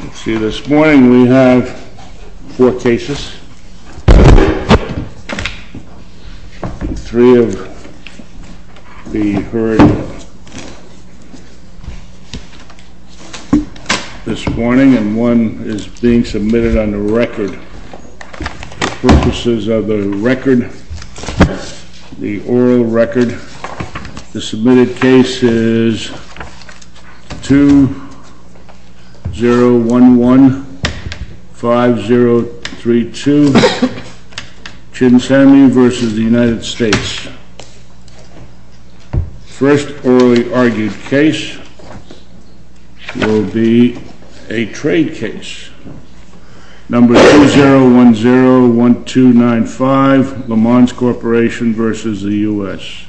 Let's see, this morning we have four cases, three of which will be heard this morning, and one is being submitted on the record for purposes of the record, the oral record. The submitted case is 20115032, Chin Samuel v. United States. First orally argued case will be a trade case. Number 20101295, LEMANS CORP v. United States.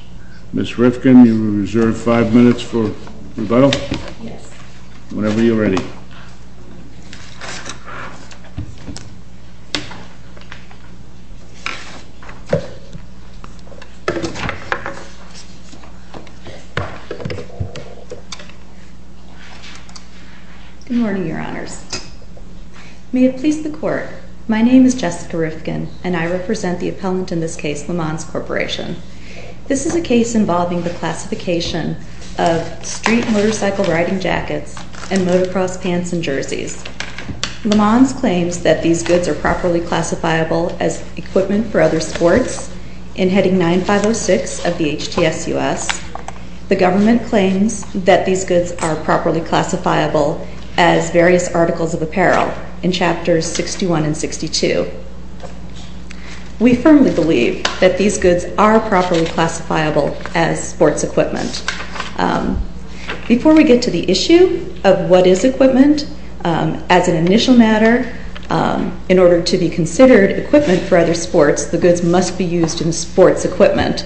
Ms. Rifkin, you are reserved five minutes for rebuttal. Whenever you're ready. Good morning, Your Honors. May it please the Court, my name is Jessica Rifkin, and I represent the appellant in this case, LEMANS CORP. This is a case involving the classification of street motorcycle riding jackets and motocross pants and jerseys. LEMANS claims that these goods are properly classifiable as equipment for other sports in Heading 9506 of the HTSUS. The government claims that these goods are properly classifiable as various articles of apparel in Chapters 61 and 62. We firmly believe that these goods are properly classifiable as sports equipment. Before we get to the issue of what is equipment, as an initial matter, in order to be considered equipment for other sports, the goods must be used in sports equipment.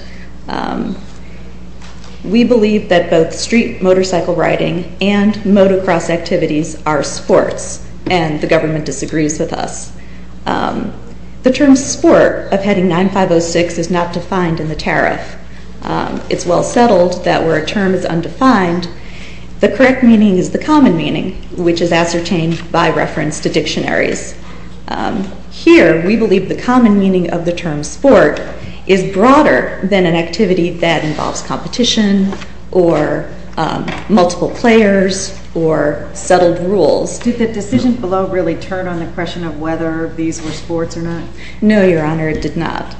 We believe that both street motorcycle riding and motocross activities are sports, and the government disagrees with us. The term sport of Heading 9506 is not defined in the tariff. It's well settled that where a term is undefined, the correct meaning is the common meaning, which is ascertained by reference to dictionaries. Here, we believe the common meaning of the term sport is broader than an activity that involves competition or multiple players or settled rules. Did the decision below really turn on the question of whether these were sports or not? No, Your Honor, it did not.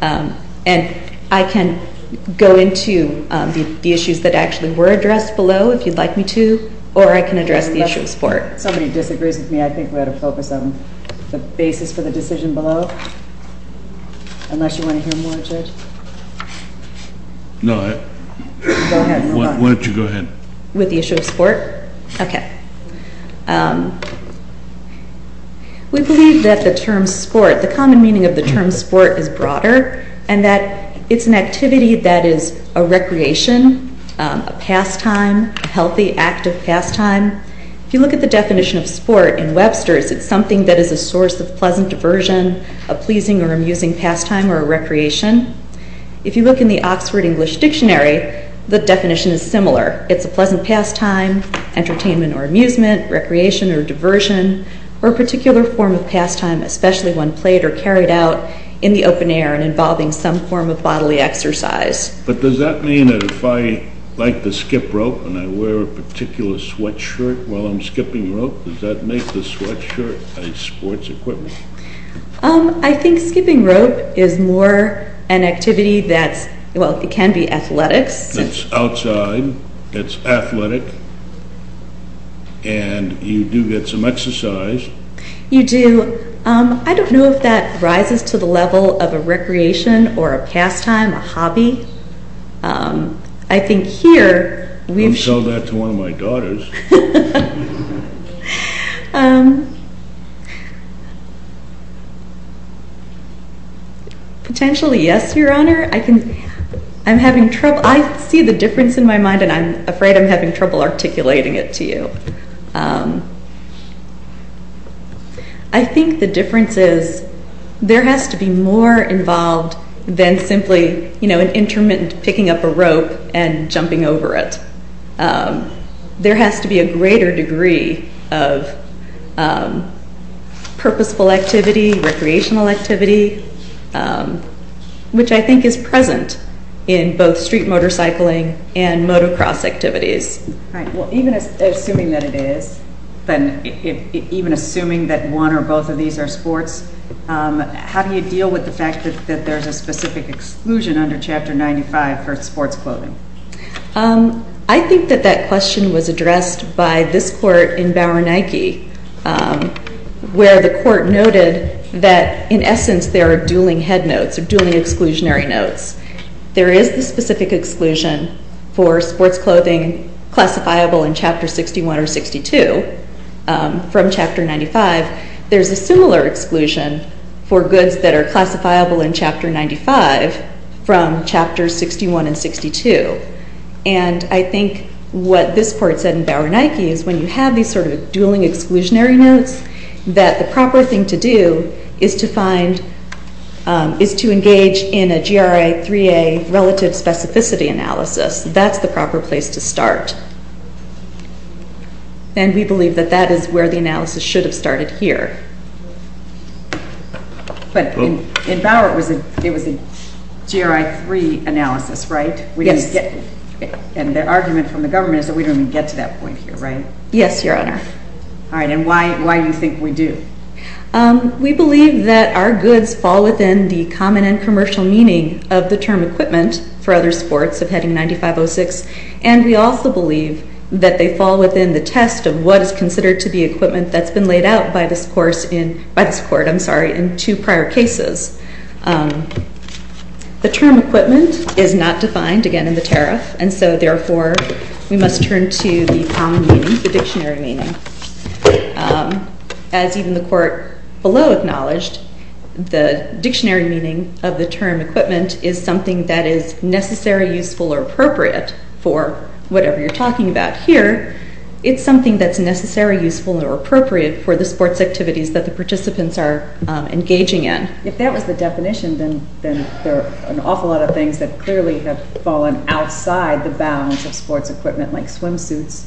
And I can go into the issues that actually were addressed below if you'd like me to, or I can address the issue of sport. If somebody disagrees with me, I think we ought to focus on the basis for the decision below, unless you want to hear more, Judge? No. Go ahead. Why don't you go ahead. With the issue of sport? Okay. We believe that the term sport, the common meaning of the term sport is broader, and that it's an activity that is a recreation, a pastime, a healthy, active pastime. If you look at the definition of sport in Webster's, it's something that is a source of pleasant diversion, a pleasing or amusing pastime or a recreation. If you look in the Oxford English Dictionary, the definition is similar. It's a pleasant pastime, entertainment or amusement, recreation or diversion, or a particular form of pastime, especially when played or carried out in the open air and involving some form of bodily exercise. But does that mean that if I like to skip rope and I wear a particular sweatshirt while I'm skipping rope, does that make the sweatshirt a sports equipment? I think skipping rope is more an activity that's, well, it can be athletics. It's outside, it's athletic, and you do get some exercise. You do. I don't know if that rises to the level of a recreation or a pastime, a hobby. I think here we've shown that to one of my daughters. Potentially, yes, Your Honor. I'm having trouble. I see the difference in my mind, and I'm afraid I'm having trouble articulating it to you. I think the difference is there has to be more involved than simply an intermittent picking up a rope and jumping over it. There has to be a greater degree of purposeful activity, recreational activity, which I think is present in both street motorcycling and motocross activities. All right. Well, even assuming that it is, even assuming that one or both of these are sports, how do you deal with the fact that there's a specific exclusion under Chapter 95 for sports clothing? I think that that question was addressed by this court in Bowernike, where the court noted that, in essence, there are dueling head notes or dueling exclusionary notes. There is the specific exclusion for sports clothing classifiable in Chapter 61 or 62 from Chapter 95. There's a similar exclusion for goods that are classifiable in Chapter 95 from Chapters 61 and 62. And I think what this court said in Bowernike is when you have these sort of dueling exclusionary notes, that the proper thing to do is to find, is to engage in a GRI 3A relative specificity analysis. That's the proper place to start. And we believe that that is where the analysis should have started here. But in Bauer, it was a GRI 3 analysis, right? Yes. And the argument from the government is that we don't even get to that point here, right? Yes, Your Honor. All right. And why do you think we do? We believe that our goods fall within the common and commercial meaning of the term equipment for other sports of Heading 9506. And we also believe that they fall within the test of what is considered to be equipment that's been laid out by this court in two prior cases. The term equipment is not defined, again, in the tariff. And so, therefore, we must turn to the common meaning, the dictionary meaning. As even the court below acknowledged, the dictionary meaning of the term equipment is something that is necessary, useful, or appropriate for whatever you're talking about. Here, it's something that's necessary, useful, or appropriate for the sports activities that the participants are engaging in. If that was the definition, then there are an awful lot of things that clearly have fallen outside the bounds of sports equipment like swimsuits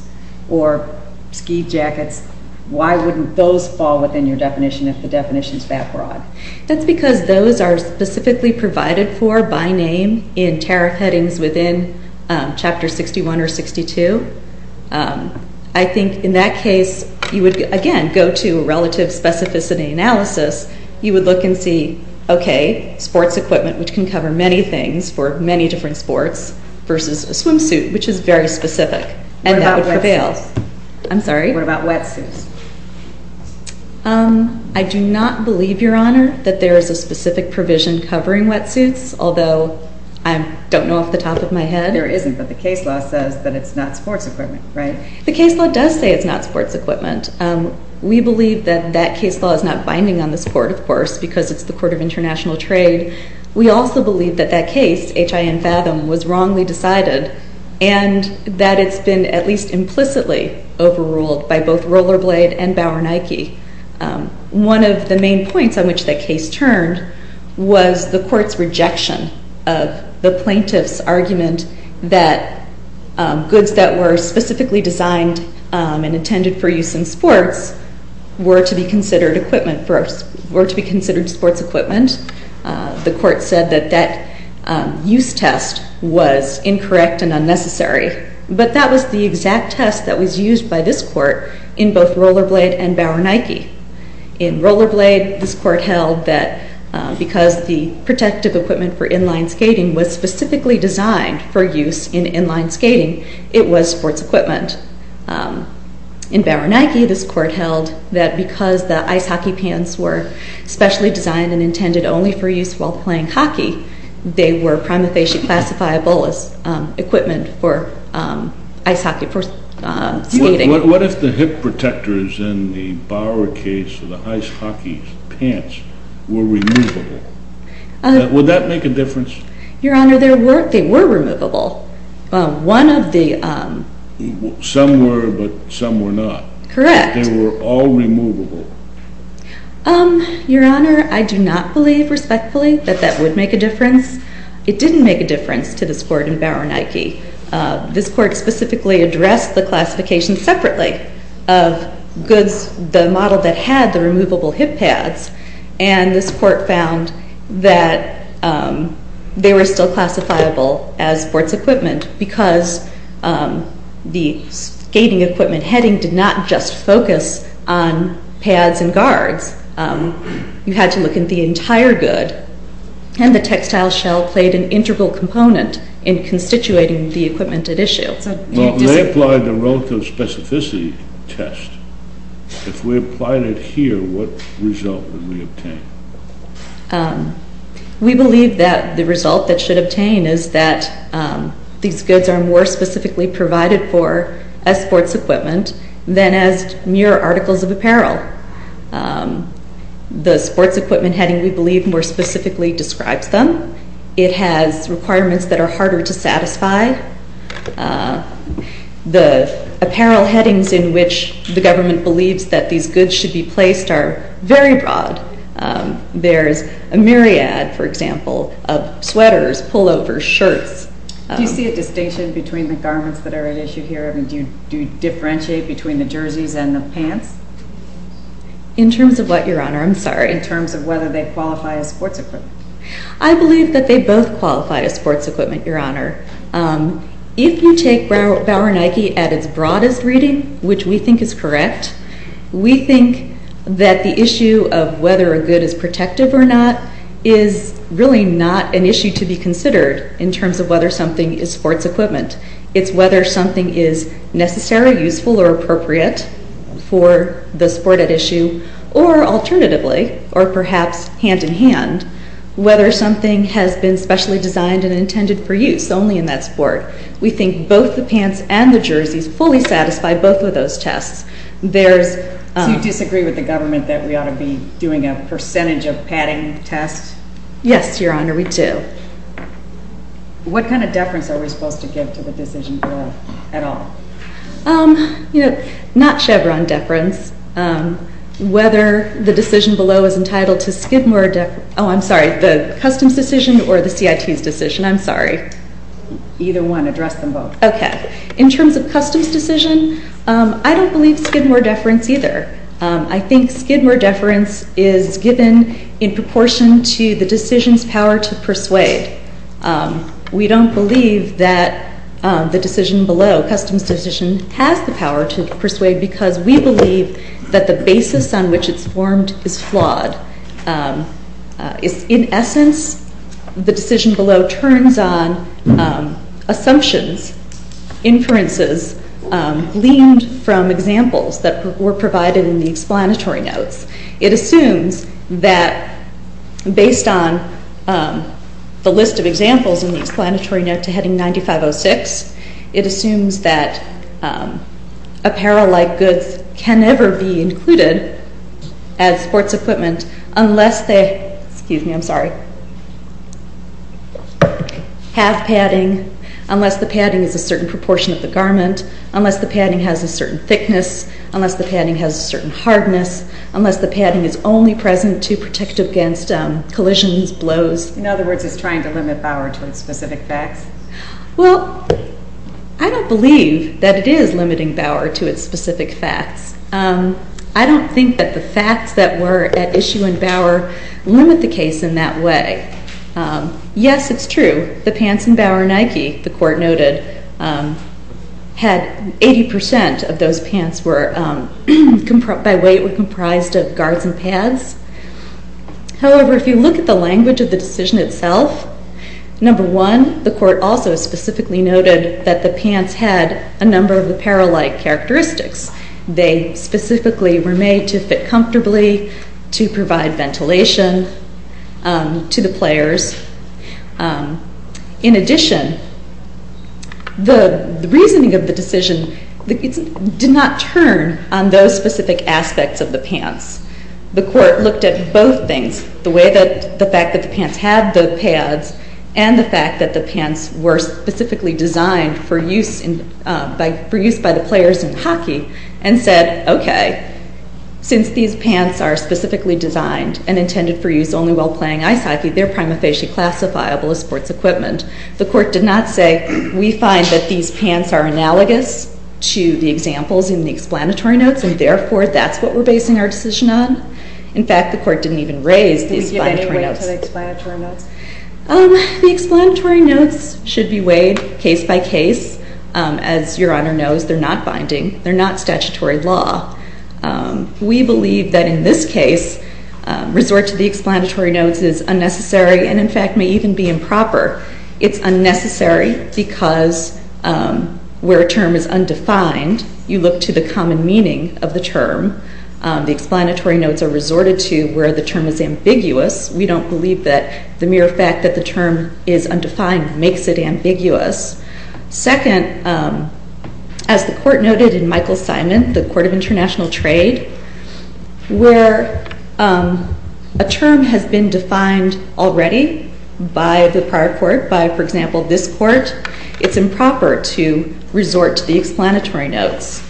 or ski jackets. Why wouldn't those fall within your definition if the definition is that broad? That's because those are specifically provided for by name in tariff headings within Chapter 61 or 62. I think in that case, you would, again, go to relative specificity analysis. You would look and see, okay, sports equipment, which can cover many things for many different sports, versus a swimsuit, which is very specific. What about wetsuits? I'm sorry? What about wetsuits? I do not believe, Your Honor, that there is a specific provision covering wetsuits, although I don't know off the top of my head. There isn't, but the case law says that it's not sports equipment, right? The case law does say it's not sports equipment. We believe that that case law is not binding on this Court, of course, because it's the Court of International Trade. We also believe that that case, H.I.N. Fathom, was wrongly decided and that it's been at least implicitly overruled by both Rollerblade and Bauer Nike. One of the main points on which that case turned was the Court's rejection of the plaintiff's argument that goods that were specifically designed and intended for use in sports were to be considered sports equipment. The Court said that that use test was incorrect and unnecessary, but that was the exact test that was used by this Court in both Rollerblade and Bauer Nike. In Rollerblade, this Court held that because the protective equipment for inline skating was specifically designed for use in inline skating, it was sports equipment. In Bauer Nike, this Court held that because the ice hockey pants were specially designed and intended only for use while playing hockey, they were prima facie classifiable as equipment for ice hockey, for skating. What if the hip protectors in the Bauer case, the ice hockey pants, were removable? Your Honor, they were removable. Some were, but some were not. Correct. They were all removable. Your Honor, I do not believe respectfully that that would make a difference. It didn't make a difference to this Court in Bauer Nike. This Court specifically addressed the classification separately of goods, the model that had the removable hip pads, and this Court found that they were still classifiable as sports equipment because the skating equipment heading did not just focus on pads and guards. You had to look at the entire good, and the textile shell played an integral component in constituting the equipment at issue. Well, they applied the relative specificity test. If we applied it here, what result would we obtain? We believe that the result that should obtain is that these goods are more specifically provided for as sports equipment than as mere articles of apparel. The sports equipment heading, we believe, more specifically describes them. It has requirements that are harder to satisfy. The apparel headings in which the government believes that these goods should be placed are very broad. There's a myriad, for example, of sweaters, pullovers, shirts. Do you see a distinction between the garments that are at issue here? Do you differentiate between the jerseys and the pants? In terms of what, Your Honor? I'm sorry. In terms of whether they qualify as sports equipment. I believe that they both qualify as sports equipment, Your Honor. If you take Bauer Nike at its broadest reading, which we think is correct, we think that the issue of whether a good is protective or not is really not an issue to be considered in terms of whether something is sports equipment. It's whether something is necessary, useful, or appropriate for the sport at issue, or alternatively, or perhaps hand-in-hand, whether something has been specially designed and intended for use. We think both the pants and the jerseys fully satisfy both of those tests. Do you disagree with the government that we ought to be doing a percentage of padding tests? Yes, Your Honor, we do. What kind of deference are we supposed to give to the decision below at all? Not Chevron deference. Whether the decision below is entitled to Skidmore deference. Oh, I'm sorry, the Customs decision or the CIT's decision? I'm sorry. Either one. Address them both. Okay. In terms of Customs decision, I don't believe Skidmore deference either. I think Skidmore deference is given in proportion to the decision's power to persuade. We don't believe that the decision below, Customs decision, has the power to persuade because we believe that the basis on which it's formed is flawed. In essence, the decision below turns on assumptions, inferences, gleaned from examples that were provided in the explanatory notes. It assumes that based on the list of examples in the explanatory note to heading 9506, it assumes that apparel-like goods can never be included as sports equipment unless they have padding, unless the padding is a certain proportion of the garment, unless the padding has a certain thickness, unless the padding has a certain hardness, unless the padding is only present to protect against collisions, blows. In other words, it's trying to limit power to its specific facts. Well, I don't believe that it is limiting Bauer to its specific facts. I don't think that the facts that were at issue in Bauer limit the case in that way. Yes, it's true. The pants in Bauer Nike, the Court noted, had 80% of those pants by weight were comprised of guards and pads. However, if you look at the language of the decision itself, number one, the Court also specifically noted that the pants had a number of apparel-like characteristics. They specifically were made to fit comfortably, to provide ventilation to the players. In addition, the reasoning of the decision did not turn on those specific aspects of the pants. The Court looked at both things, the fact that the pants had the pads and the fact that the pants were specifically designed for use by the players in hockey, and said, okay, since these pants are specifically designed and intended for use only while playing ice hockey, they're prima facie classifiable as sports equipment. The Court did not say, we find that these pants are analogous to the examples in the explanatory notes, and therefore that's what we're basing our decision on. In fact, the Court didn't even raise the explanatory notes. Did we give any weight to the explanatory notes? The explanatory notes should be weighed case by case. As Your Honor knows, they're not binding. They're not statutory law. We believe that in this case, resort to the explanatory notes is unnecessary and in fact may even be improper. It's unnecessary because where a term is undefined, you look to the common meaning of the term. The explanatory notes are resorted to where the term is ambiguous. We don't believe that the mere fact that the term is undefined makes it ambiguous. Second, as the Court noted in Michael Simon, the Court of International Trade, where a term has been defined already by the prior court, by, for example, this court, it's improper to resort to the explanatory notes.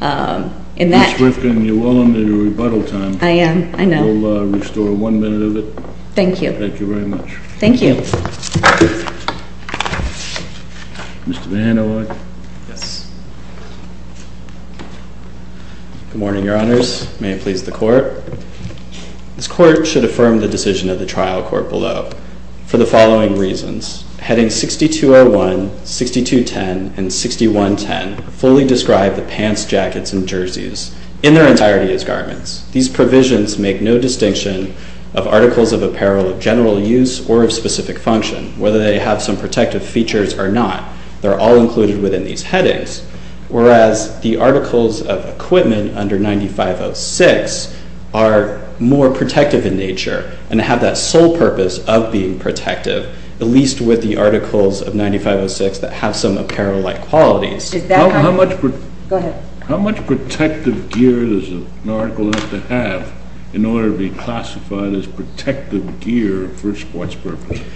Ms. Rifkin, you're well under your rebuttal time. I am. I know. We'll restore one minute of it. Thank you. Thank you very much. Thank you. Mr. Van Hollen. Yes. Good morning, Your Honors. May it please the Court. This Court should affirm the decision of the trial court below for the following reasons. Heading 6201, 6210, and 6110 fully describe the pants, jackets, and jerseys in their entirety as garments. These provisions make no distinction of articles of apparel of general use or of specific function, whether they have some protective features or not. They're all included within these headings, whereas the articles of equipment under 9506 are more protective in nature and have that sole purpose of being protective, at least with the articles of 9506 that have some apparel-like qualities. Is that right? Go ahead. How much protective gear does an article have to have in order to be classified as protective gear for sports purposes?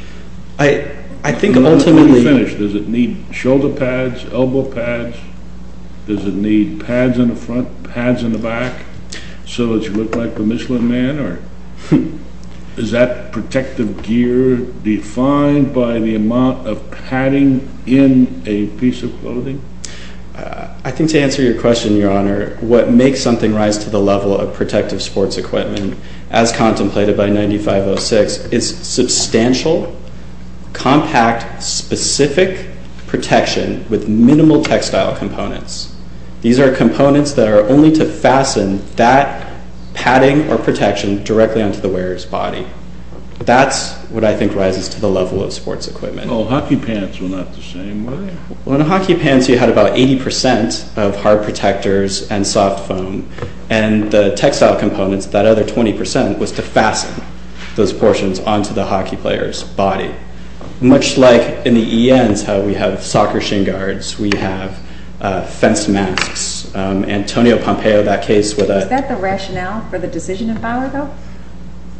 I think ultimately— Does it need shoulder pads, elbow pads? Does it need pads in the front, pads in the back, so that you look like the Michelin man? Is that protective gear defined by the amount of padding in a piece of clothing? I think to answer your question, Your Honor, what makes something rise to the level of protective sports equipment, as contemplated by 9506, is substantial, compact, specific protection with minimal textile components. These are components that are only to fasten that padding or protection directly onto the wearer's body. That's what I think rises to the level of sports equipment. Oh, hockey pants were not the same way? Well, in hockey pants you had about 80 percent of hard protectors and soft foam, and the textile components, that other 20 percent, was to fasten those portions onto the hockey player's body. Much like in the ENs how we have soccer shin guards, we have fence masks. Antonio Pompeo, that case— Is that the rationale for the decision of Bauer, though?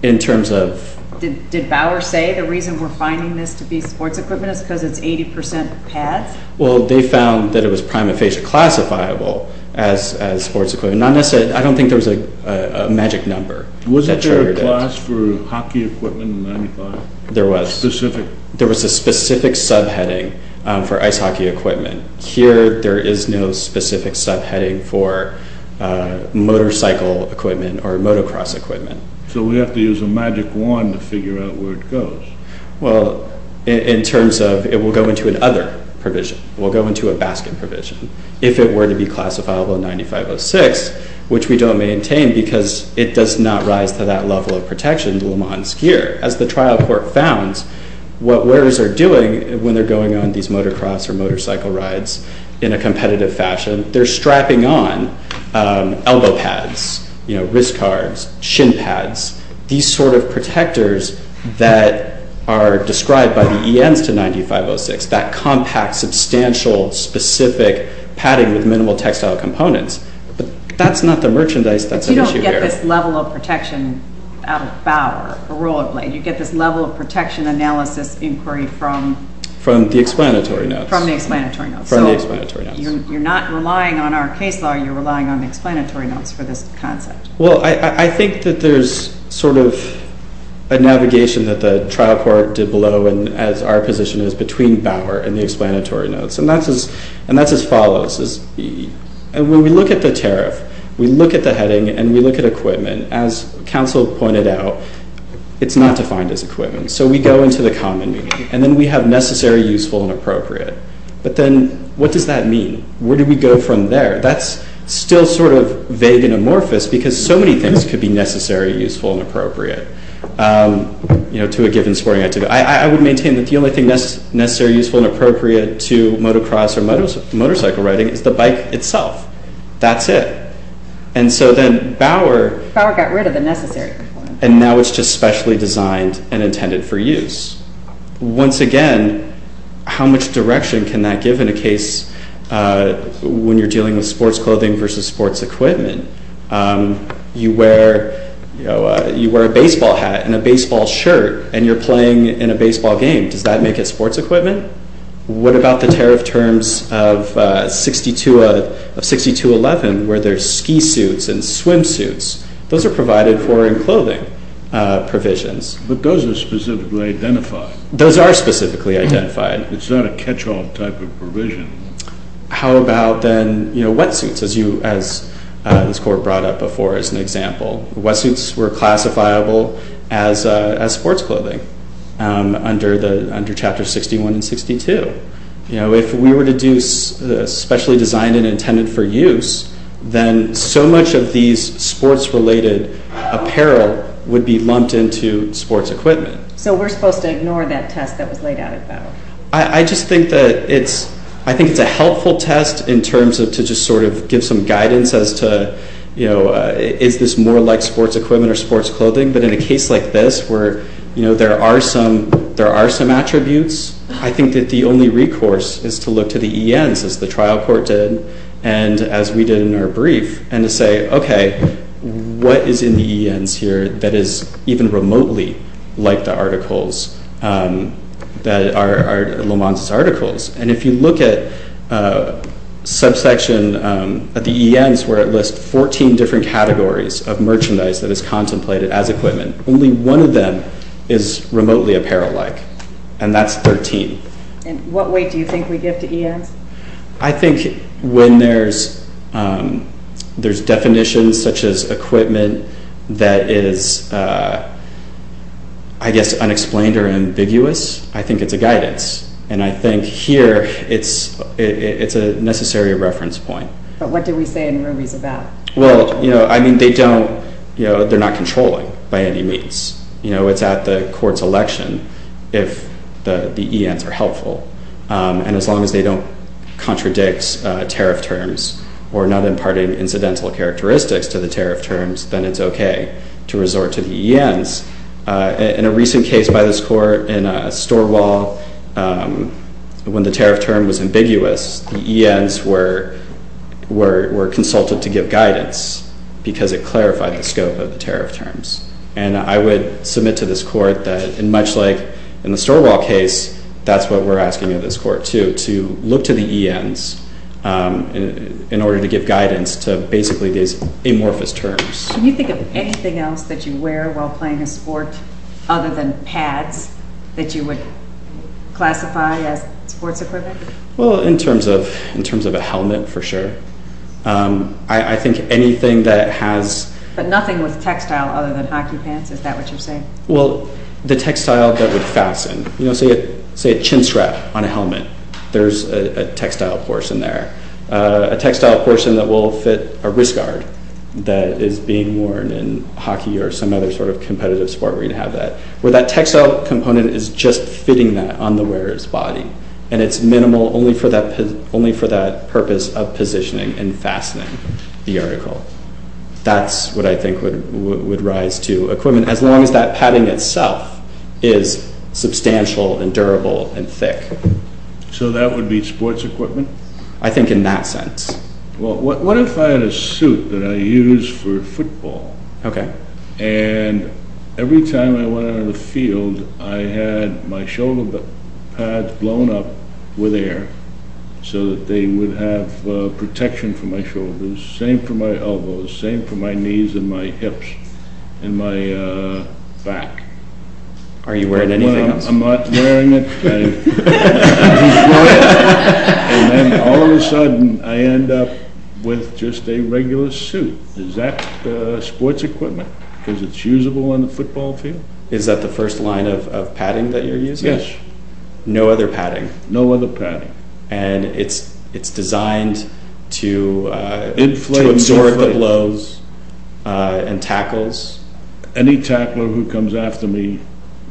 In terms of— Did Bauer say the reason we're finding this to be sports equipment is because it's 80 percent pads? Well, they found that it was prima facie classifiable as sports equipment. I don't think there was a magic number that triggered it. Was there a class for hockey equipment in 9506? There was. Specific? There was a specific subheading for ice hockey equipment. Here there is no specific subheading for motorcycle equipment or motocross equipment. So we have to use a magic wand to figure out where it goes. Well, in terms of it will go into another provision. It will go into a basket provision. If it were to be classifiable in 9506, which we don't maintain because it does not rise to that level of protection, Le Mans gear. As the trial court found, what wearers are doing when they're going on these motocross or motorcycle rides in a competitive fashion, they're strapping on elbow pads, wrist guards, shin pads, these sort of protectors that are described by the ENs to 9506, that compact, substantial, specific padding with minimal textile components. But that's not the merchandise that's at issue here. But you don't get this level of protection out of Bauer, a rule of law. You get this level of protection analysis inquiry from? From the explanatory notes. From the explanatory notes. From the explanatory notes. So you're not relying on our case law. You're relying on the explanatory notes for this concept. Well, I think that there's sort of a navigation that the trial court did below, and as our position is, between Bauer and the explanatory notes. And that's as follows. When we look at the tariff, we look at the heading, and we look at equipment. As counsel pointed out, it's not defined as equipment. So we go into the common meaning, and then we have necessary, useful, and appropriate. But then what does that mean? Where do we go from there? That's still sort of vague and amorphous because so many things could be necessary, useful, and appropriate to a given sporting activity. I would maintain that the only thing necessary, useful, and appropriate to motocross or motorcycle riding is the bike itself. That's it. And so then Bauer got rid of the necessary. And now it's just specially designed and intended for use. Once again, how much direction can that give in a case when you're dealing with sports clothing versus sports equipment? You wear a baseball hat and a baseball shirt, and you're playing in a baseball game. Does that make it sports equipment? What about the tariff terms of 6211 where there's ski suits and swimsuits? Those are provided for in clothing provisions. But those are specifically identified. Those are specifically identified. It's not a catch-all type of provision. How about then, you know, wetsuits, as you, as this court brought up before as an example? Wetsuits were classifiable as sports clothing under Chapter 61 and 62. You know, if we were to do specially designed and intended for use, then so much of these sports-related apparel would be lumped into sports equipment. So we're supposed to ignore that test that was laid out at Bauer? I just think that it's, I think it's a helpful test in terms of to just sort of give some guidance as to, you know, is this more like sports equipment or sports clothing? But in a case like this where, you know, there are some, there are some attributes, I think that the only recourse is to look to the ENs as the trial court did, and as we did in our brief, and to say, okay, what is in the ENs here that is even remotely like the articles that are Lamont's articles? And if you look at subsection, at the ENs where it lists 14 different categories of merchandise that is contemplated as equipment, only one of them is remotely apparel-like, and that's 13. And what weight do you think we give to ENs? I think when there's, there's definitions such as equipment that is, I guess, unexplained or ambiguous, I think it's a guidance. And I think here it's, it's a necessary reference point. But what do we say in rubies about? Well, you know, I mean, they don't, you know, they're not controlling by any means. You know, it's at the court's election if the ENs are helpful. And as long as they don't contradict tariff terms or not imparting incidental characteristics to the tariff terms, then it's okay to resort to the ENs. In a recent case by this court in a store wall, when the tariff term was ambiguous, the ENs were consulted to give guidance because it clarified the scope of the tariff terms. And I would submit to this court that in much like in the store wall case, that's what we're asking of this court too, to look to the ENs in order to give guidance to basically these amorphous terms. Can you think of anything else that you wear while playing a sport other than pads that you would classify as sports equipment? Well, in terms of a helmet, for sure. I think anything that has... But nothing with textile other than hockey pants, is that what you're saying? Well, the textile that would fasten, you know, say a chinstrap on a helmet, there's a textile portion there. A textile portion that will fit a wrist guard that is being worn in hockey or some other sort of competitive sport where you have that. Where that textile component is just fitting that on the wearer's body, and it's minimal only for that purpose of positioning and fastening the article. That's what I think would rise to equipment, as long as that padding itself is substantial and durable and thick. So that would be sports equipment? I think in that sense. Well, what if I had a suit that I use for football? Okay. And every time I went out on the field, I had my shoulder pads blown up with air so that they would have protection for my shoulders. Same for my elbows, same for my knees and my hips and my back. Are you wearing anything else? I'm not wearing anything. And then all of a sudden, I end up with just a regular suit. Is that sports equipment? Because it's usable on the football field? Is that the first line of padding that you're using? Yes. No other padding? No other padding. And it's designed to absorb the blows and tackles? Any tackler who comes after me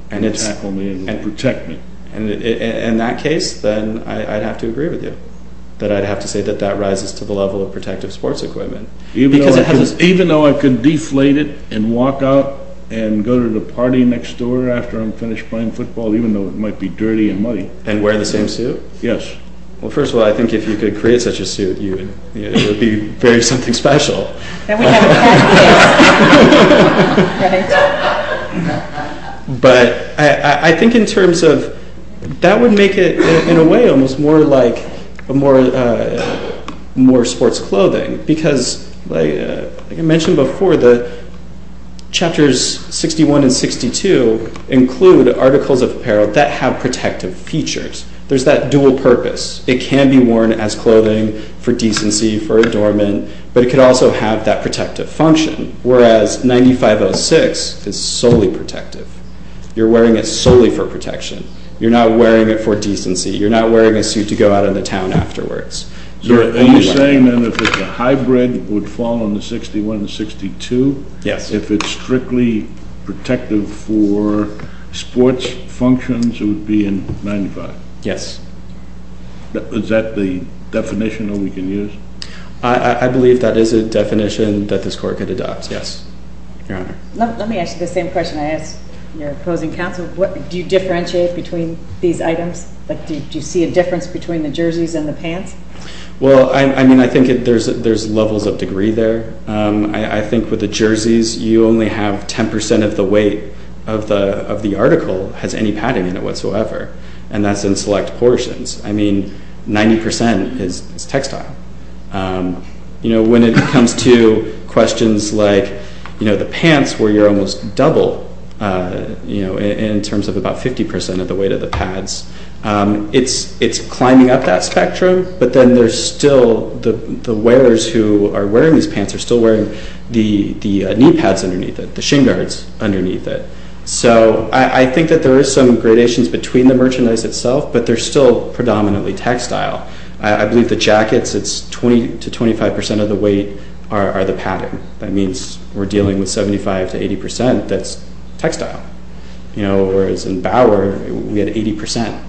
can tackle me and protect me. And in that case, then I'd have to agree with you, that I'd have to say that that rises to the level of protective sports equipment. Even though I could deflate it and walk out and go to the party next door after I'm finished playing football, even though it might be dirty and muddy. And wear the same suit? Yes. Well, first of all, I think if you could create such a suit, it would be very something special. Then we'd have a pad case. But I think in terms of that would make it, in a way, almost more like more sports clothing. Because, like I mentioned before, the chapters 61 and 62 include articles of apparel that have protective features. There's that dual purpose. It can be worn as clothing for decency, for adornment, but it could also have that protective function. Whereas 9506 is solely protective. You're wearing it solely for protection. You're not wearing it for decency. You're not wearing a suit to go out into town afterwards. So are you saying then if it's a hybrid, it would fall in the 61 and 62? Yes. If it's strictly protective for sports functions, it would be in 95? Yes. Is that the definition that we can use? I believe that is a definition that this court could adopt. Yes. Your Honor. Let me ask you the same question I asked your opposing counsel. Do you differentiate between these items? Do you see a difference between the jerseys and the pants? Well, I mean, I think there's levels of degree there. I think with the jerseys, you only have 10% of the weight of the article has any padding in it whatsoever. And that's in select portions. I mean, 90% is textile. You know, when it comes to questions like, you know, the pants where you're almost double, you know, in terms of about 50% of the weight of the pads, it's climbing up that spectrum. But then there's still the wearers who are wearing these pants are still wearing the knee pads underneath it, the shin guards underneath it. So I think that there is some gradations between the merchandise itself, but they're still predominantly textile. I believe the jackets, it's 20% to 25% of the weight are the padding. That means we're dealing with 75% to 80% that's textile. You know, whereas in Bauer, we had 80%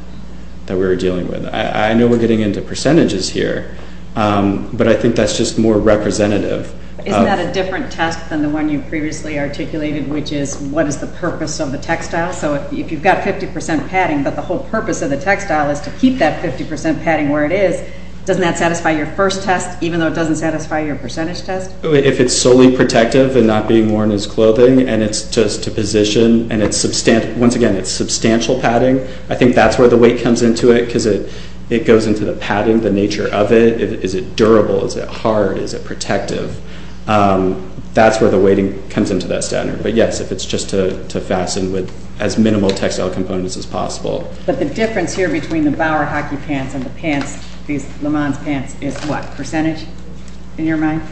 that we were dealing with. I know we're getting into percentages here, but I think that's just more representative. Isn't that a different test than the one you previously articulated, which is what is the purpose of the textile? So if you've got 50% padding, but the whole purpose of the textile is to keep that 50% padding where it is, doesn't that satisfy your first test, even though it doesn't satisfy your percentage test? If it's solely protective and not being worn as clothing, and it's just to position, and once again, it's substantial padding, I think that's where the weight comes into it because it goes into the padding, the nature of it. Is it durable? Is it hard? Is it protective? That's where the weighting comes into that standard. But yes, if it's just to fasten with as minimal textile components as possible. But the difference here between the Bauer hockey pants and the pants, these LeMans pants, is what? Percentage, in your mind?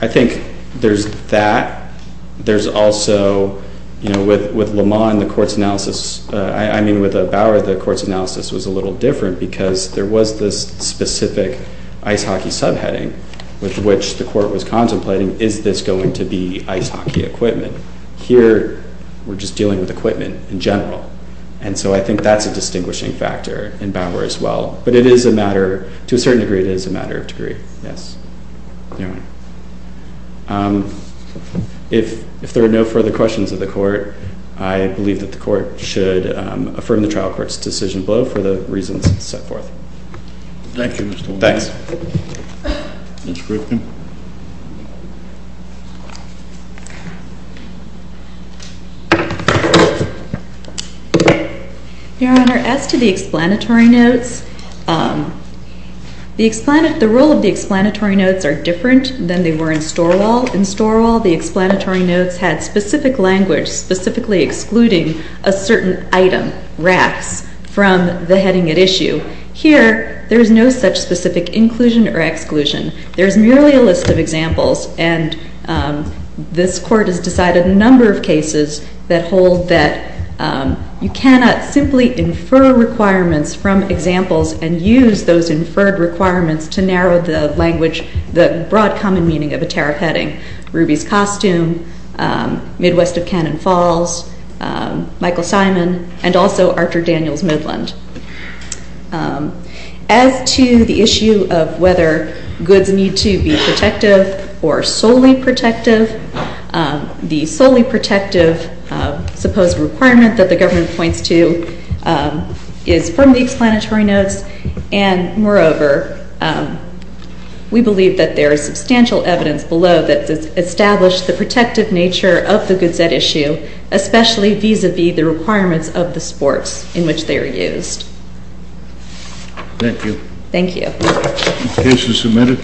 I think there's that. There's also, you know, with LeMans, the court's analysis, I mean with the Bauer, the court's analysis was a little different because there was this specific ice hockey subheading with which the court was contemplating, is this going to be ice hockey equipment? Here, we're just dealing with equipment in general. And so I think that's a distinguishing factor in Bauer as well. But it is a matter, to a certain degree, it is a matter of degree, yes. Your Honor, if there are no further questions of the court, I believe that the court should affirm the trial court's decision below for the reasons set forth. Thank you, Mr. Waldman. Thanks. Ms. Griffin. Your Honor, as to the explanatory notes, the role of the explanatory notes are different than they were in Storwell. In Storwell, the explanatory notes had specific language, specifically excluding a certain item, racks, from the heading at issue. Here, there is no such specific inclusion or exclusion. There is merely a list of examples. And this court has decided a number of cases that hold that you cannot simply infer requirements from examples and use those inferred requirements to narrow the language, the broad common meaning of a tariff heading. Ruby's Costume, Midwest of Cannon Falls, Michael Simon, and also Archer Daniels Midland. As to the issue of whether goods need to be protective or solely protective, the solely protective supposed requirement that the government points to is from the explanatory notes. And moreover, we believe that there is substantial evidence below that has established the protective nature of the goods especially vis-a-vis the requirements of the sports in which they are used. Thank you. Thank you. The case is submitted.